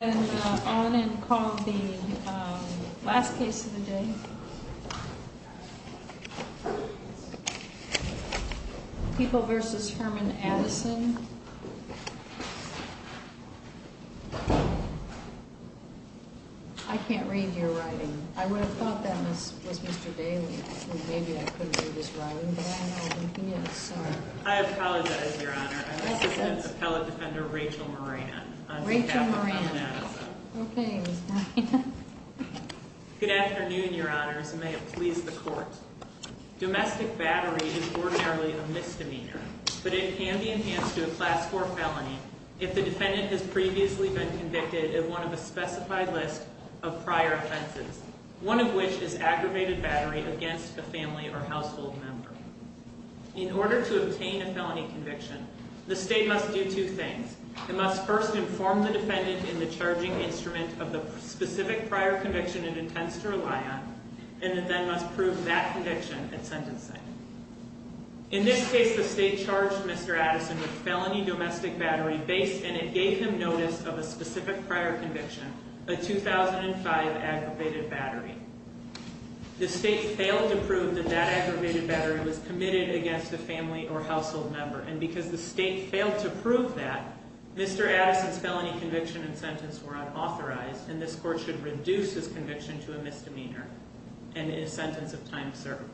and on and called the last case of the day. People versus Herman Addison. I can't read your writing. I would have thought that this was Mr Daly. Maybe I couldn't do this writing, but I don't know who he is. Sorry. I apologize, your honor. Appellate Defender Rachel Moran. Rachel Moran. Okay. Good afternoon, your honors, and may it please the court. Domestic battery is ordinarily a misdemeanor, but it can be enhanced to a class for felony. If the defendant has previously been convicted of one of a specified list of prior offenses, one of which is aggravated battery against a family or in order to obtain a felony conviction, the state must do two things. It must first inform the defendant in the charging instrument of the specific prior conviction it intends to rely on, and then must prove that conviction and sentencing. In this case, the state charged Mr Addison with felony domestic battery base, and it gave him notice of a specific prior conviction. A 2000 and five aggravated battery. The state failed to prove that that aggravated battery was committed against the family or household member, and because the state failed to prove that Mr Addison's felony conviction and sentence were unauthorized, and this court should reduce his conviction to a misdemeanor and a sentence of time served.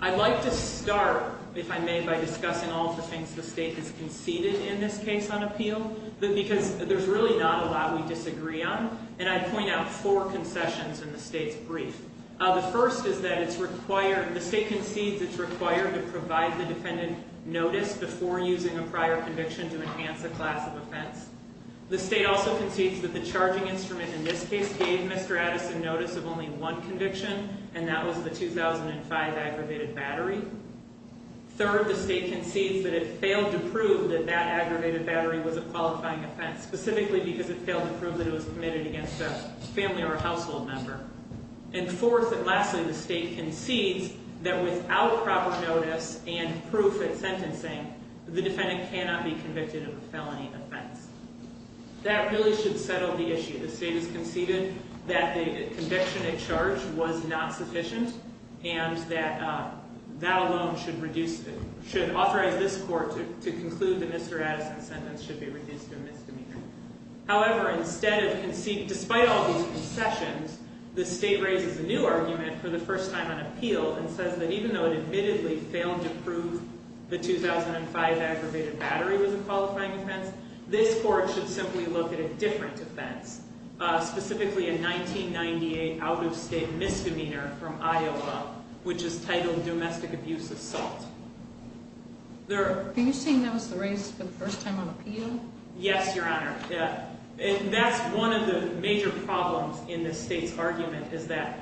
I'd like to start, if I may, by discussing all the things the state has conceded in this case on appeal, because there's really not a lot we disagree on, and I point out four concessions in the state's brief. The first is that it's required, the state concedes it's required to provide the defendant notice before using a prior conviction to enhance a class of offense. The state also concedes that the charging instrument in this case gave Mr Addison notice of only one conviction, and that was the 2005 aggravated battery. Third, the state concedes that it failed to prove that that aggravated battery was a qualifying offense, specifically because it failed to prove that it was committed against a family or household member. And fourth, and lastly, the state concedes that without proper notice and proof at sentencing, the defendant cannot be convicted of a felony offense. That really should settle the issue. The state has conceded that the conviction at charge was not sufficient, and that that alone should reduce, should authorize this court to conclude that Mr Addison's sentence should be reduced to a misdemeanor. However, instead of conceding, despite all these concessions, the state raises a new argument for the first time on appeal and says that even though it admittedly failed to prove the 2005 aggravated battery was a qualifying offense, this court should simply look at a different offense, specifically a 1998 out of state misdemeanor from Iowa, which is titled domestic abuse assault. There, are you saying that was the race for the first time on appeal? Yes, Your Honor. That's one of the major problems in the state's argument is that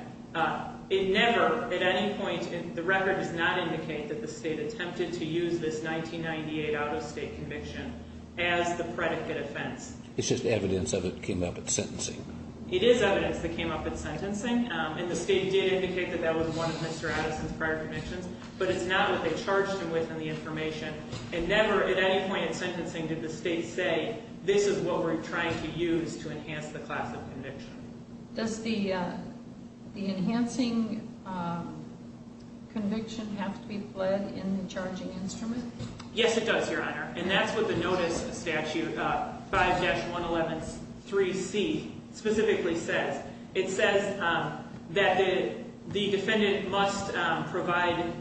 it never, at any point, the record does not indicate that the state attempted to use this 1998 out of state conviction as the predicate offense. It's just evidence of it came up at sentencing. It is evidence that came up at sentencing, and the state did indicate that that was one of Mr Addison's prior convictions, but it's not what they charged him with in the this is what we're trying to use to enhance the class of conviction. Does the, uh, the enhancing, um, conviction have to be bled in the charging instrument? Yes, it does, Your Honor. And that's what the notice statute about 5-111-3C specifically says. It says, um, that the defendant must provide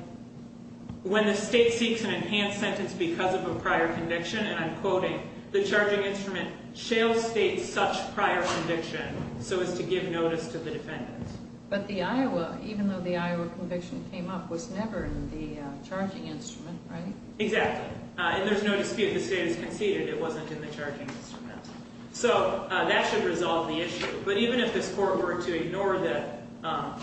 when the state seeks an enhanced sentence because of a prior conviction, and I'm quoting the charging instrument, shale state such prior conviction so as to give notice to the defendant. But the Iowa, even though the Iowa conviction came up, was never in the charging instrument, right? Exactly. And there's no dispute the state has conceded it wasn't in the charging instrument. So that should resolve the issue. But even if this court were to ignore that, um,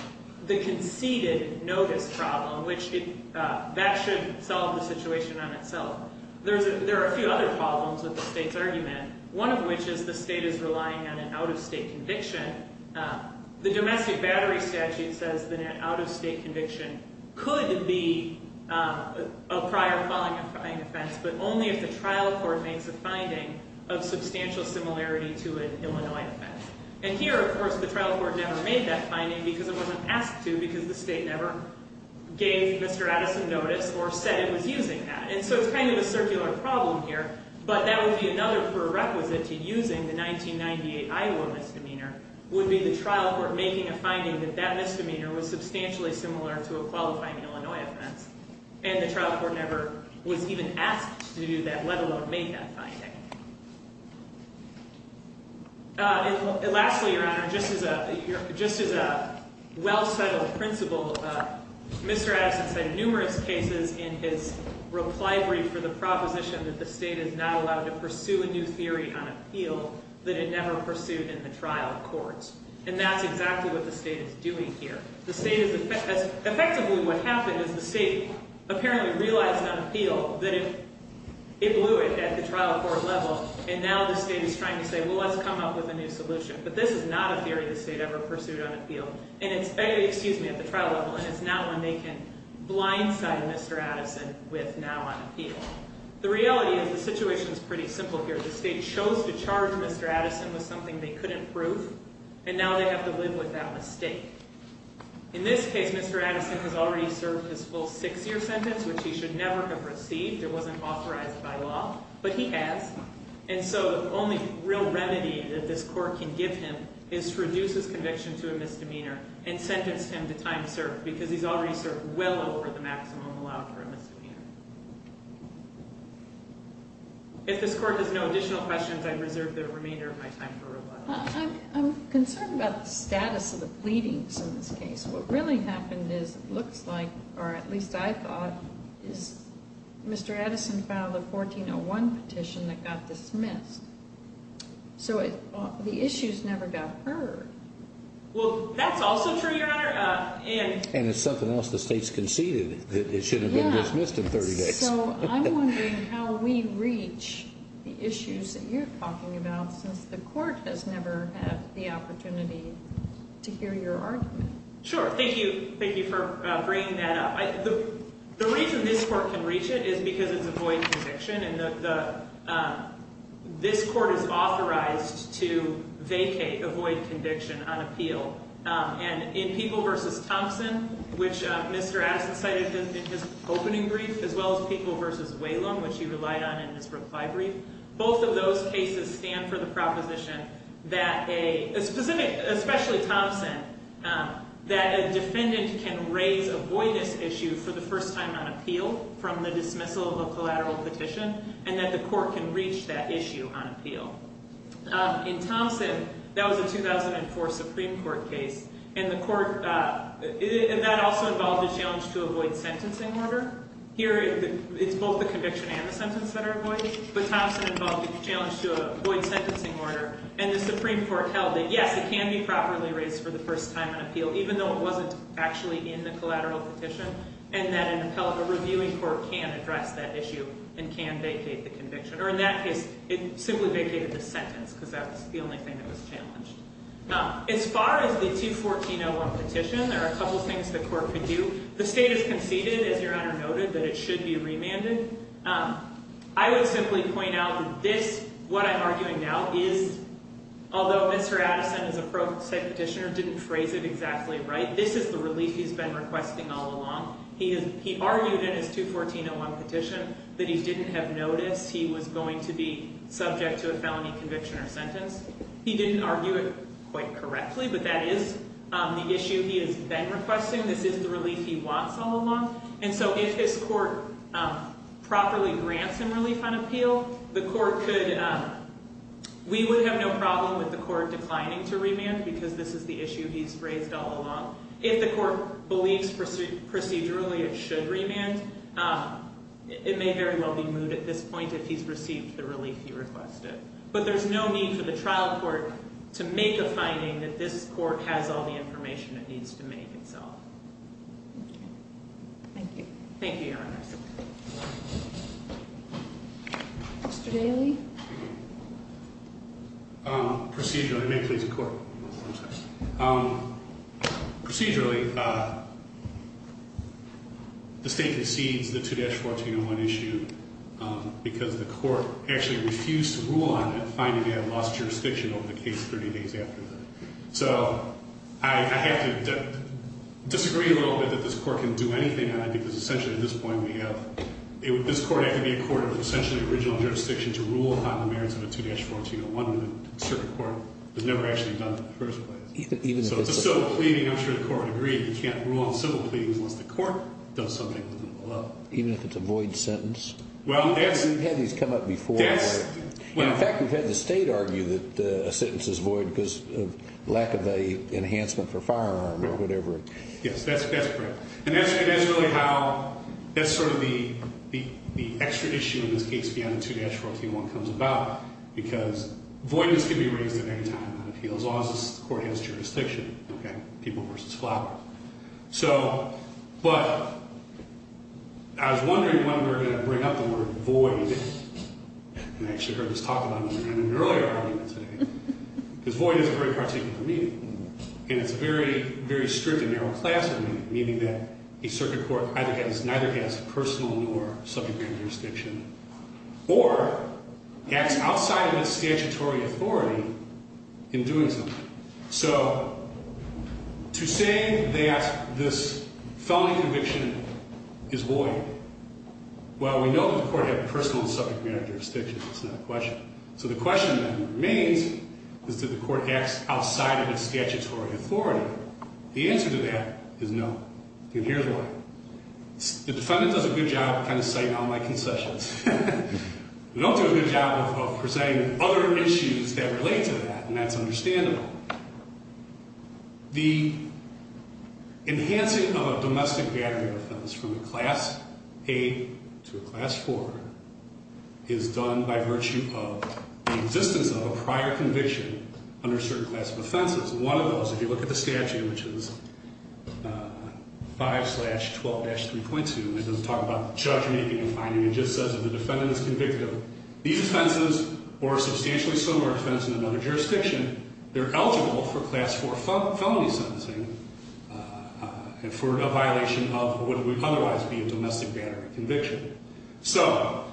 the conceded notice problem, which, uh, that should solve the situation on itself. There's a, there are a few other problems with the state's argument, one of which is the state is relying on an out-of-state conviction. Uh, the domestic battery statute says that an out-of-state conviction could be, um, a prior falling, a falling offense, but only if the trial court makes a finding of substantial similarity to an Illinois offense. And here, of course, the trial court never made that finding because it wasn't asked to because the state never gave Mr. Addison notice or said it was using that. And so it's kind of a circular problem here, but that would be another prerequisite to using the 1998 Iowa misdemeanor would be the trial court making a finding that that misdemeanor was substantially similar to a qualifying Illinois offense. And the trial court never was even asked to do that, let alone make that finding. Uh, and lastly, Your Honor, just as a, just as a well-settled principle, uh, Mr. Addison said numerous cases in his reply brief for the proposition that the state is not allowed to pursue a new theory on appeal that it never pursued in the trial courts. And that's exactly what the state is doing here. The state is, effectively what happened is the state apparently realized on appeal that it, it blew it at the trial court level, and now the state is trying to say, well, let's come up with a new never pursued on appeal. And it's, excuse me, at the trial level, and it's now when they can blindside Mr. Addison with now on appeal. The reality is the situation is pretty simple here. The state chose to charge Mr. Addison with something they couldn't prove, and now they have to live with that mistake. In this case, Mr. Addison has already served his full six year sentence, which he should never have received. It wasn't authorized by law, but he has. And so the only real remedy that this court can give him is to reduce his conviction to a misdemeanor and sentence him to time served, because he's already served well over the maximum allowed for a misdemeanor. If this court has no additional questions, I reserve the remainder of my time for rebuttal. I'm, I'm concerned about the status of the pleadings in this case. What really happened is, it looks like, or at least I thought, is Mr. Addison filed a 1401 petition that got dismissed. So the issues never got heard. Well, that's also true, Your Honor. And it's something else. The state's conceded that it should have been dismissed in 30 days. So I'm wondering how we reach the issues that you're talking about, since the court has never had the opportunity to hear your argument. Sure. Thank you. Thank you for bringing that up. The reason this court can reach it is because it's a void conviction, and the, this court is authorized to vacate, avoid conviction on appeal. And in People v. Thompson, which Mr. Addison cited in his opening brief, as well as People v. Whalum, which he relied on in his reply brief, both of those cases stand for the proposition that a specific, especially Thompson, that a defendant can raise a voidus issue for the first time on appeal from the Supreme Court, and that the court can reach that issue on appeal. In Thompson, that was a 2004 Supreme Court case, and the court, and that also involved a challenge to a void sentencing order. Here, it's both the conviction and the sentence that are void, but Thompson involved a challenge to a void sentencing order, and the Supreme Court held that, yes, it can be properly raised for the first time on appeal, even though it wasn't actually in the collateral petition, and that an appellate, a reviewing court can address that issue, and can vacate the conviction, or in that case, it simply vacated the sentence, because that's the only thing that was challenged. As far as the 214-01 petition, there are a couple things the court could do. The state has conceded, as Your Honor noted, that it should be remanded. I would simply point out that this, what I'm arguing now, is, although Mr. Addison, as a pro se petitioner, didn't phrase it exactly right, this is the relief he's been requesting, and it's just the fact that he's been proposing it on the collateral petition, that he didn't have noticed he was going to be subject to a felony conviction or sentence. He didn't argue it quite correctly, but that is the issue he has been requesting, this is the relief he wants all along, and so if his court properly grants him relief on appeal, the court could, we would have no problem with the court declining to remand, because this is the issue he's raised all along. If the court believes procedurally it should remand, it may very well be moved at this point if he's received the relief he requested, but there's no need for the trial court to make a finding that this court has all the information it needs to make itself. Thank you. Thank you, Your Honors. Mr. Daley? Procedurally, may it please the court. Procedurally, the state has received the 2-1401 issue because the court actually refused to rule on it, finding they had lost jurisdiction over the case 30 days after the, so I have to disagree a little bit that this court can do anything on it, because essentially at this point we have, this court had to be a court of essentially original jurisdiction to rule upon the merits of a 2-1401, and the circuit court has never actually done it in the first place. So it's a civil pleading, I'm sure the court agreed, you can't rule on civil pleadings unless the court does something with them below. Even if it's a void sentence? Well, that's... We've had these come up before. In fact, we've had the state argue that a sentence is void because of lack of a enhancement for firearm or whatever. Yes, that's correct. And that's really how, that's sort of the extra issue in this case beyond the 2-1401 comes about, because voidness can be raised at any time on appeals, as long as the court has jurisdiction, okay? People versus flower. So, but, I was wondering when we're going to bring up the word void, and I actually heard this talked about in an earlier argument today, because void is a very particular meaning, and it's a very, very strict and narrow class of meaning, meaning that a circuit court either has, neither has personal nor subject matter jurisdiction, or acts outside of its statutory authority. So, to say that this felony conviction is void, well, we know that the court had personal and subject matter jurisdiction. It's not a question. So the question that remains is that the court acts outside of its statutory authority. The answer to that is no, and here's why. The defendant does a good job of kind of citing all my concessions. We don't do a good job of presenting other issues that relate to that, and that's understandable. The enhancing of a domestic gathering offense from a Class A to a Class 4 is done by virtue of the existence of a prior conviction under a certain class of offenses. One of those, if you look at the statute, which is 5-12-3.2, it doesn't talk about judgment making and finding. It just says if the defendant is convicted of these offenses or a substantially similar offense in another jurisdiction, they're eligible for Class 4 felony sentencing for a violation of what would otherwise be a domestic gathering conviction. So,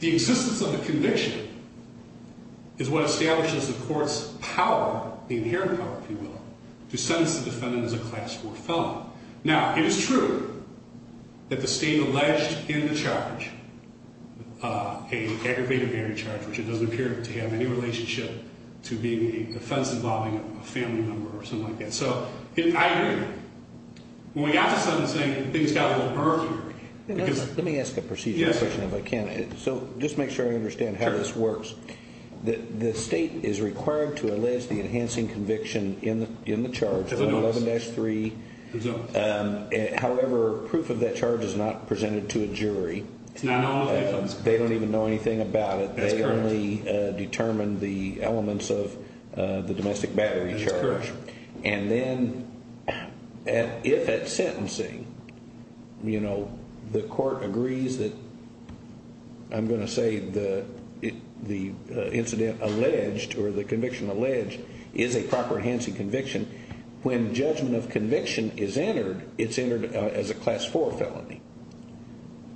the existence of a conviction is what establishes the court's power, the inherent power, if you will, to sentence the defendant as a minor charge, an aggravated minor charge, which it doesn't appear to have any relationship to being a defense involving a family member or something like that. So, I agree. When we got to sentencing, things got a little murkier. Let me ask a procedural question if I can. So, just make sure I understand how this works. The state is required to allege the enhancing conviction in the domestic battery. They don't even know anything about it. They only determine the elements of the domestic battery charge. And then, if at sentencing, you know, the court agrees that, I'm going to say, the incident alleged or the conviction alleged is a proper enhancing conviction, when judgment of conviction is entered, it's entered as a Class 4 felony.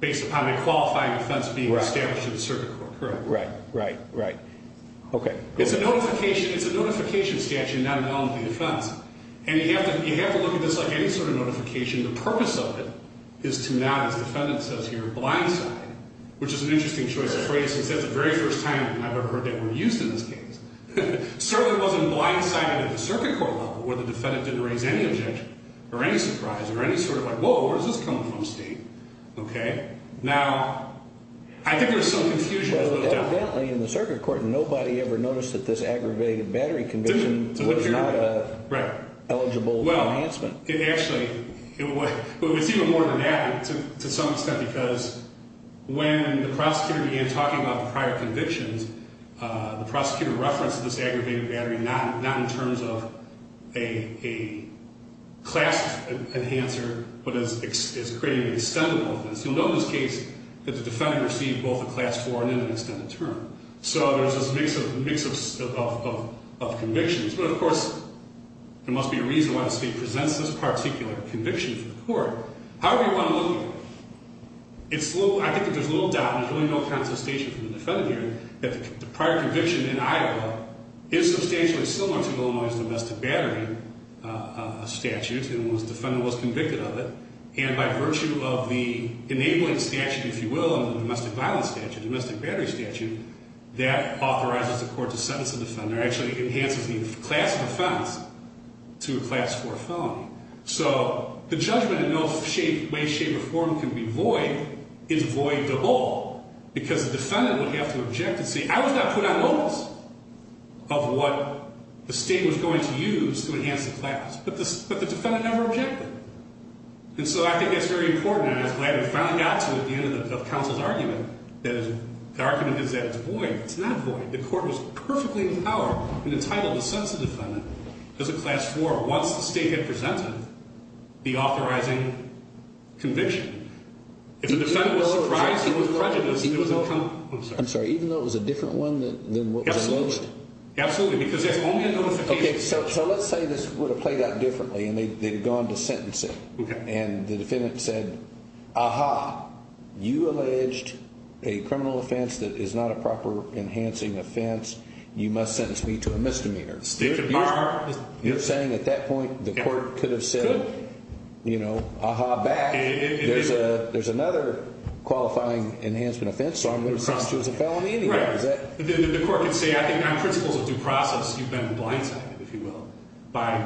Based upon the qualifying defense being established in the circuit court, correct? Right, right, right. Okay. It's a notification statute, not an element of the defense. And you have to look at this like any sort of notification. The purpose of it is to not, as the defendant says here, blindside, which is an interesting choice of phrase, since that's the very first time I've ever heard that word used in this case. Certainly wasn't blindsided at the circuit court level, or the defendant didn't raise any objection, or any surprise, or any sort of like, whoa, where's this coming from, Steve? Okay? Now, I think there's some confusion. Well, evidently, in the circuit court, nobody ever noticed that this aggravated battery conviction was not eligible for enhancement. Well, actually, it was even more than that, to some extent, because when the prosecutor began talking about the prior convictions, the prosecutor referenced this aggravated battery, not in terms of a class enhancer, but as creating an extendable offense. You'll know in this case that the defendant received both a class 4 and an extended term. So there's this mix of convictions. But, of course, there must be a reason why the state presents this particular conviction to the court. However you want to look at it, I think there's little doubt, there's really no contestation from the defendant here, that the prior conviction in Idaho is substantially similar to Illinois' domestic battery statute, and the defendant was convicted of it, and by virtue of the enabling statute, if you will, and the domestic violence statute, domestic battery statute, that authorizes the court to sentence the defender, actually enhances the class defense to a class 4 felony. So the judgment in no way, shape, or form can be void is void to all, because the defendant would have to object and say, I was not put on notice of what the state was going to use to enhance the class. But the defendant never objected. And so I think that's very important, and I was glad we finally got to it at the end of counsel's argument, that the argument is that it's void. It's not void. The court was perfectly empowered and entitled to sentence the defendant as a class 4, once the state had presented the authorizing conviction. If the defendant was surprised it was prejudice, I'm sorry, even though it was a different one than what was announced? Absolutely, because there's only a notification. Okay, so let's say this would have played out differently, and they had gone to sentence it, and the defendant said, aha, you alleged a criminal offense that is not a proper enhancing offense. You must sentence me to a misdemeanor. State of the art. You're saying at that point the court could have said, you know, aha, back. There's another qualifying enhancement offense, so I'm going to sentence you as a felony anyway. Right. The court could say, I think my principle is a due process. You've been blindsided, if you will, by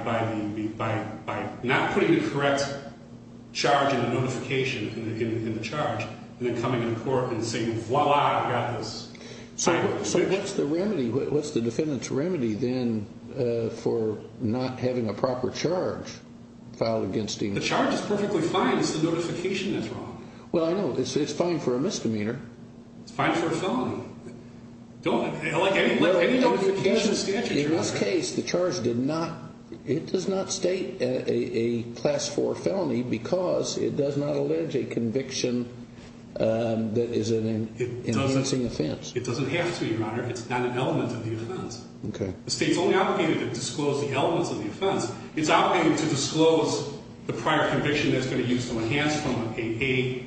not putting the correct charge in the notification, in the charge, and then coming to the court and saying, voila, I've got this. So what's the remedy? What's the defendant's remedy then for not having a proper charge filed against him? The charge is perfectly fine. It's the notification that's wrong. Well, I know. It's fine for a misdemeanor. It's fine for a felony. Don't, like any notification statute. In this case, the charge did not, it does not state a class 4 felony because it does not allege a conviction that is an enhancing offense. It doesn't have to, Your Honor. It's not an element of the offense. Okay. The state's only obligated to disclose the elements of the offense. It's obligated to disclose the prior conviction that's going to use to enhance from an A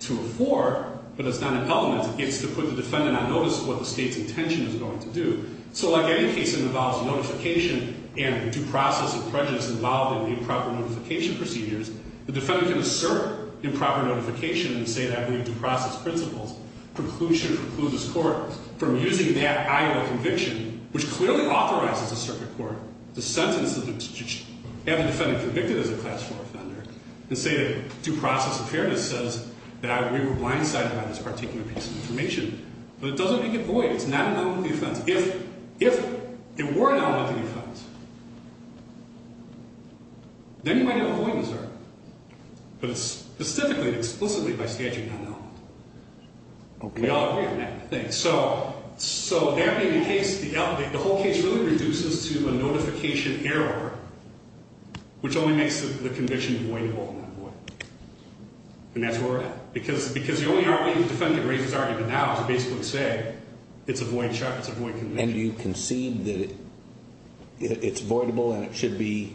to a 4, but it's not an element. It's to put the defendant on notice of what the state's intention is going to do. So like any case that involves notification and due process and prejudice involved in the improper notification procedures, the defendant can assert improper notification and say that we have due process principles. Preclusion precludes this court from using that idle conviction, which clearly authorizes the circuit court to sentence, to have the defendant convicted as a class 4 offender and say that due process and prejudice says that we were blindsided by this particular piece of information, but it doesn't make it void. It's not an element of the offense. If it were an element of the offense, then you might have avoidance, Your Honor. But it's specifically and explicitly by statute not an element. Okay. We all agree on that, I think. So that being the case, the whole case really reduces to a notification error, which only makes the conviction voidable and not void. And that's where we're at. Because the only argument the defendant raises arguably now is basically to say it's a void charge, it's a void conviction. And you concede that it's voidable and it should be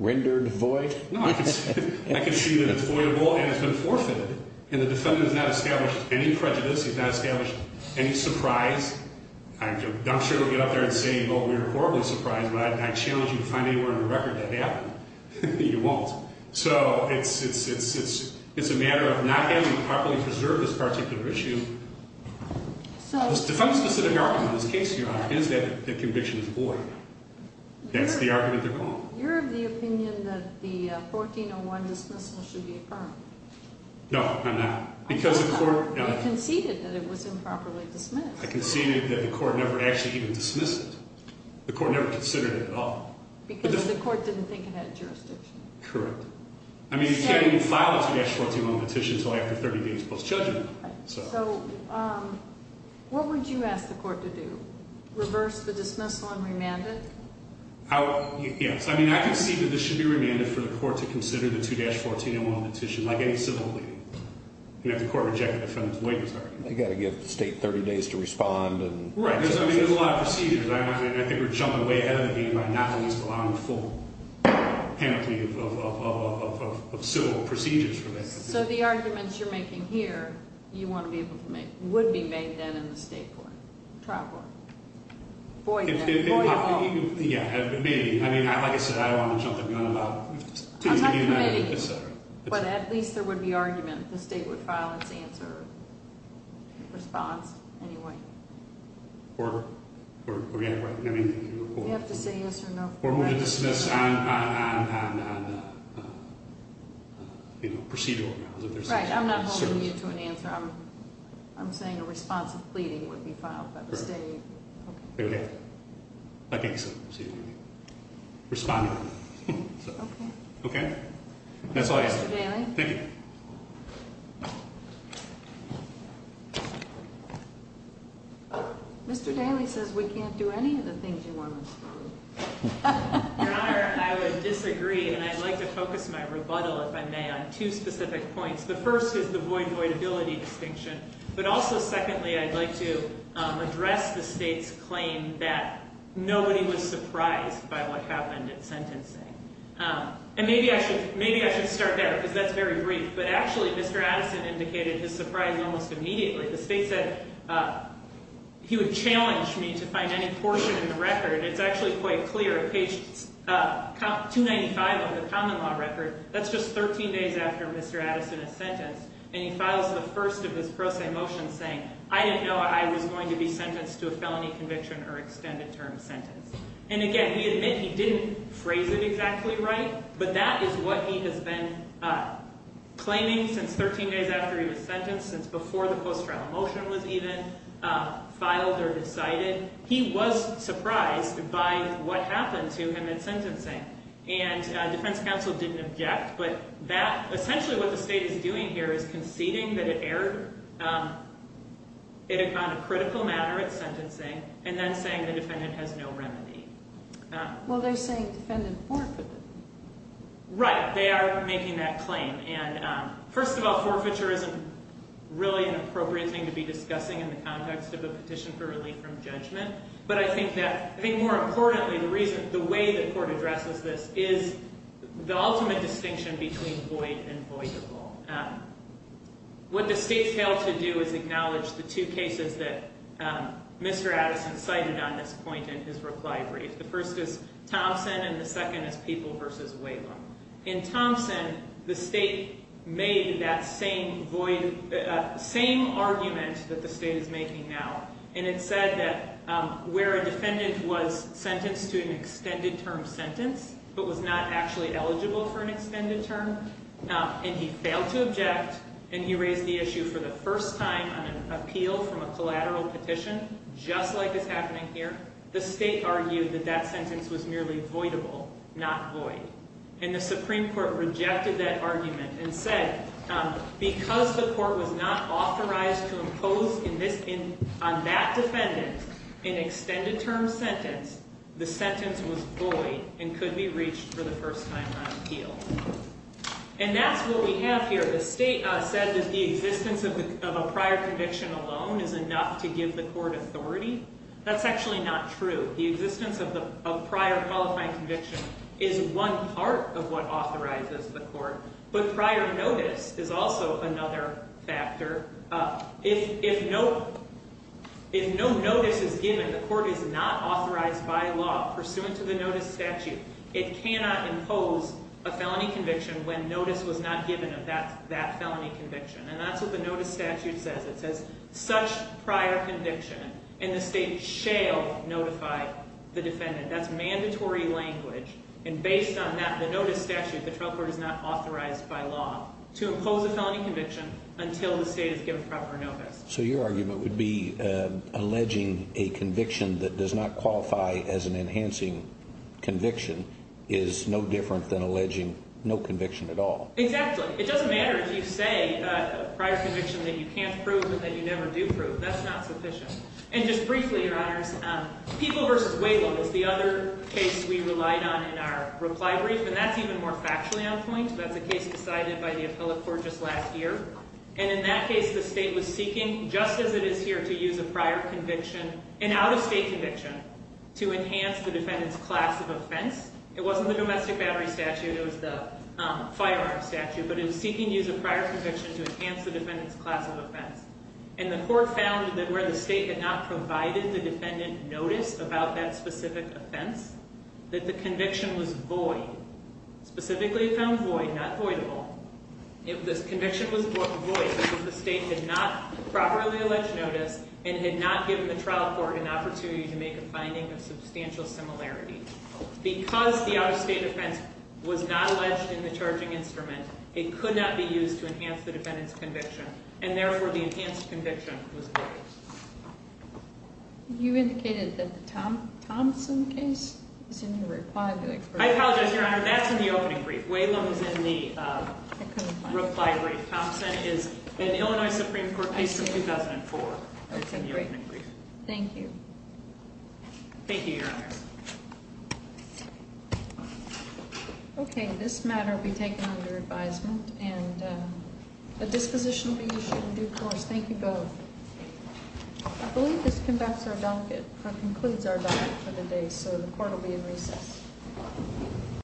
rendered void? No, I concede that it's voidable and it's been forfeited, and the defendant has not established any prejudice. He's not established any surprise. I'm sure he'll get up there and say, well, we were horribly surprised, but I challenge you to find anywhere in the record that that happened. You won't. So it's a matter of not having properly preserved this particular issue. The defense in this case, Your Honor, is that the conviction is void. That's the argument they're calling. You're of the opinion that the 1401 dismissal should be affirmed. No, I'm not. You conceded that it was improperly dismissed. I conceded that the court never actually even dismissed it. The court never considered it at all. Because the court didn't think it had jurisdiction. Correct. I mean, you can't even file a 2-141 petition until after 30 days post-judgment. So what would you ask the court to do? Reverse the dismissal and remand it? Yes. I mean, I concede that this should be remanded for the court to consider the They've got to give the state 30 days to respond. Right. I mean, there's a lot of procedures. I think we're jumping way ahead of the game by not at least allowing the full panoply of civil procedures for this. So the arguments you're making here you want to be able to make would be made then in the state court. Trial court. Void law. Yeah, maybe. I mean, like I said, I don't want to jump the gun about taking it to the United, et cetera. But at least there would be argument. The state would file its answer, response anyway. Or, yeah, right. You have to say yes or no. Or we would dismiss on procedural grounds. Right. I'm not holding you to an answer. I'm saying a response of pleading would be filed by the state. Okay. I think so. Responding. Okay. Okay. That's all I have. Thank you. Mr. Daly says we can't do any of the things you want us to do. Your Honor, I would disagree. And I'd like to focus my rebuttal, if I may, on two specific points. The first is the void-voidability distinction. But also, secondly, I'd like to address the state's claim that nobody was And maybe I should start there, because that's very brief. But actually, Mr. Addison indicated his surprise almost immediately. The state said he would challenge me to find any portion in the record. It's actually quite clear. Page 295 of the common law record, that's just 13 days after Mr. Addison is sentenced. And he files the first of his pro se motions saying, I didn't know I was going to be sentenced to a felony conviction or extended term sentence. And again, we admit he didn't phrase it exactly right, but that is what he has been claiming since 13 days after he was sentenced, since before the post-trial motion was even filed or decided. He was surprised by what happened to him in sentencing. And defense counsel didn't object, but that, essentially what the state is doing here is conceding that it erred in a kind of critical manner at Well, they're saying defendant forfeited. Right. They are making that claim. And first of all, forfeiture isn't really an appropriate thing to be discussing in the context of a petition for relief from judgment. But I think more importantly, the way the court addresses this is the ultimate distinction between void and voidable. What the state failed to do is acknowledge the two cases that Mr. Addison cited on this point in his reply brief. The first is Thompson and the second is People v. Whalum. In Thompson, the state made that same argument that the state is making now. And it said that where a defendant was sentenced to an extended term sentence, but was not actually eligible for an extended term, and he failed to object, and he raised the issue for the first time on an appeal from a The state argued that that sentence was merely voidable, not void. And the Supreme Court rejected that argument and said because the court was not authorized to impose on that defendant an extended term sentence, the sentence was void and could be reached for the first time on an appeal. And that's what we have here. The state said that the existence of a prior conviction alone is enough to That's actually not true. The existence of prior qualifying conviction is one part of what authorizes the court. But prior notice is also another factor. If no notice is given, the court is not authorized by law pursuant to the notice statute, it cannot impose a felony conviction when notice was not given of that felony conviction. And that's what the notice statute says. It says such prior conviction, and the state shall notify the defendant. That's mandatory language. And based on that, the notice statute, the trial court is not authorized by law to impose a felony conviction until the state has given proper notice. So your argument would be alleging a conviction that does not qualify as an enhancing conviction is no different than alleging no conviction at all. Exactly. It doesn't matter if you say a prior conviction that you can't prove and that you never do prove. That's not sufficient. And just briefly, Your Honors, People v. Waylon is the other case we relied on in our reply brief. And that's even more factually on point. That's a case decided by the appellate court just last year. And in that case, the state was seeking, just as it is here, to use a prior conviction, an out-of-state conviction, to enhance the defendant's class of offense. It wasn't the domestic battery statute. It was the firearm statute. But it was seeking to use a prior conviction to enhance the defendant's class of offense. And the court found that where the state had not provided the defendant notice about that specific offense, that the conviction was void. Specifically found void, not voidable. If this conviction was void because the state did not properly allege notice and had not given the trial court an opportunity to make a finding of substantial similarity. Because the out-of-state offense was not alleged in the charging instrument, it could not be used to enhance the defendant's conviction. And therefore, the enhanced conviction was void. You indicated that the Thompson case is in the reply brief. I apologize, Your Honor. That's in the opening brief. Waylon was in the reply brief. Thompson is an Illinois Supreme Court case from 2004. I see. Okay, great. Thank you. Thank you, Your Honor. Okay, this matter will be taken under advisement, and a disposition will be issued in due course. Thank you both. I believe this concludes our dialogue for the day, so the court will be in recess.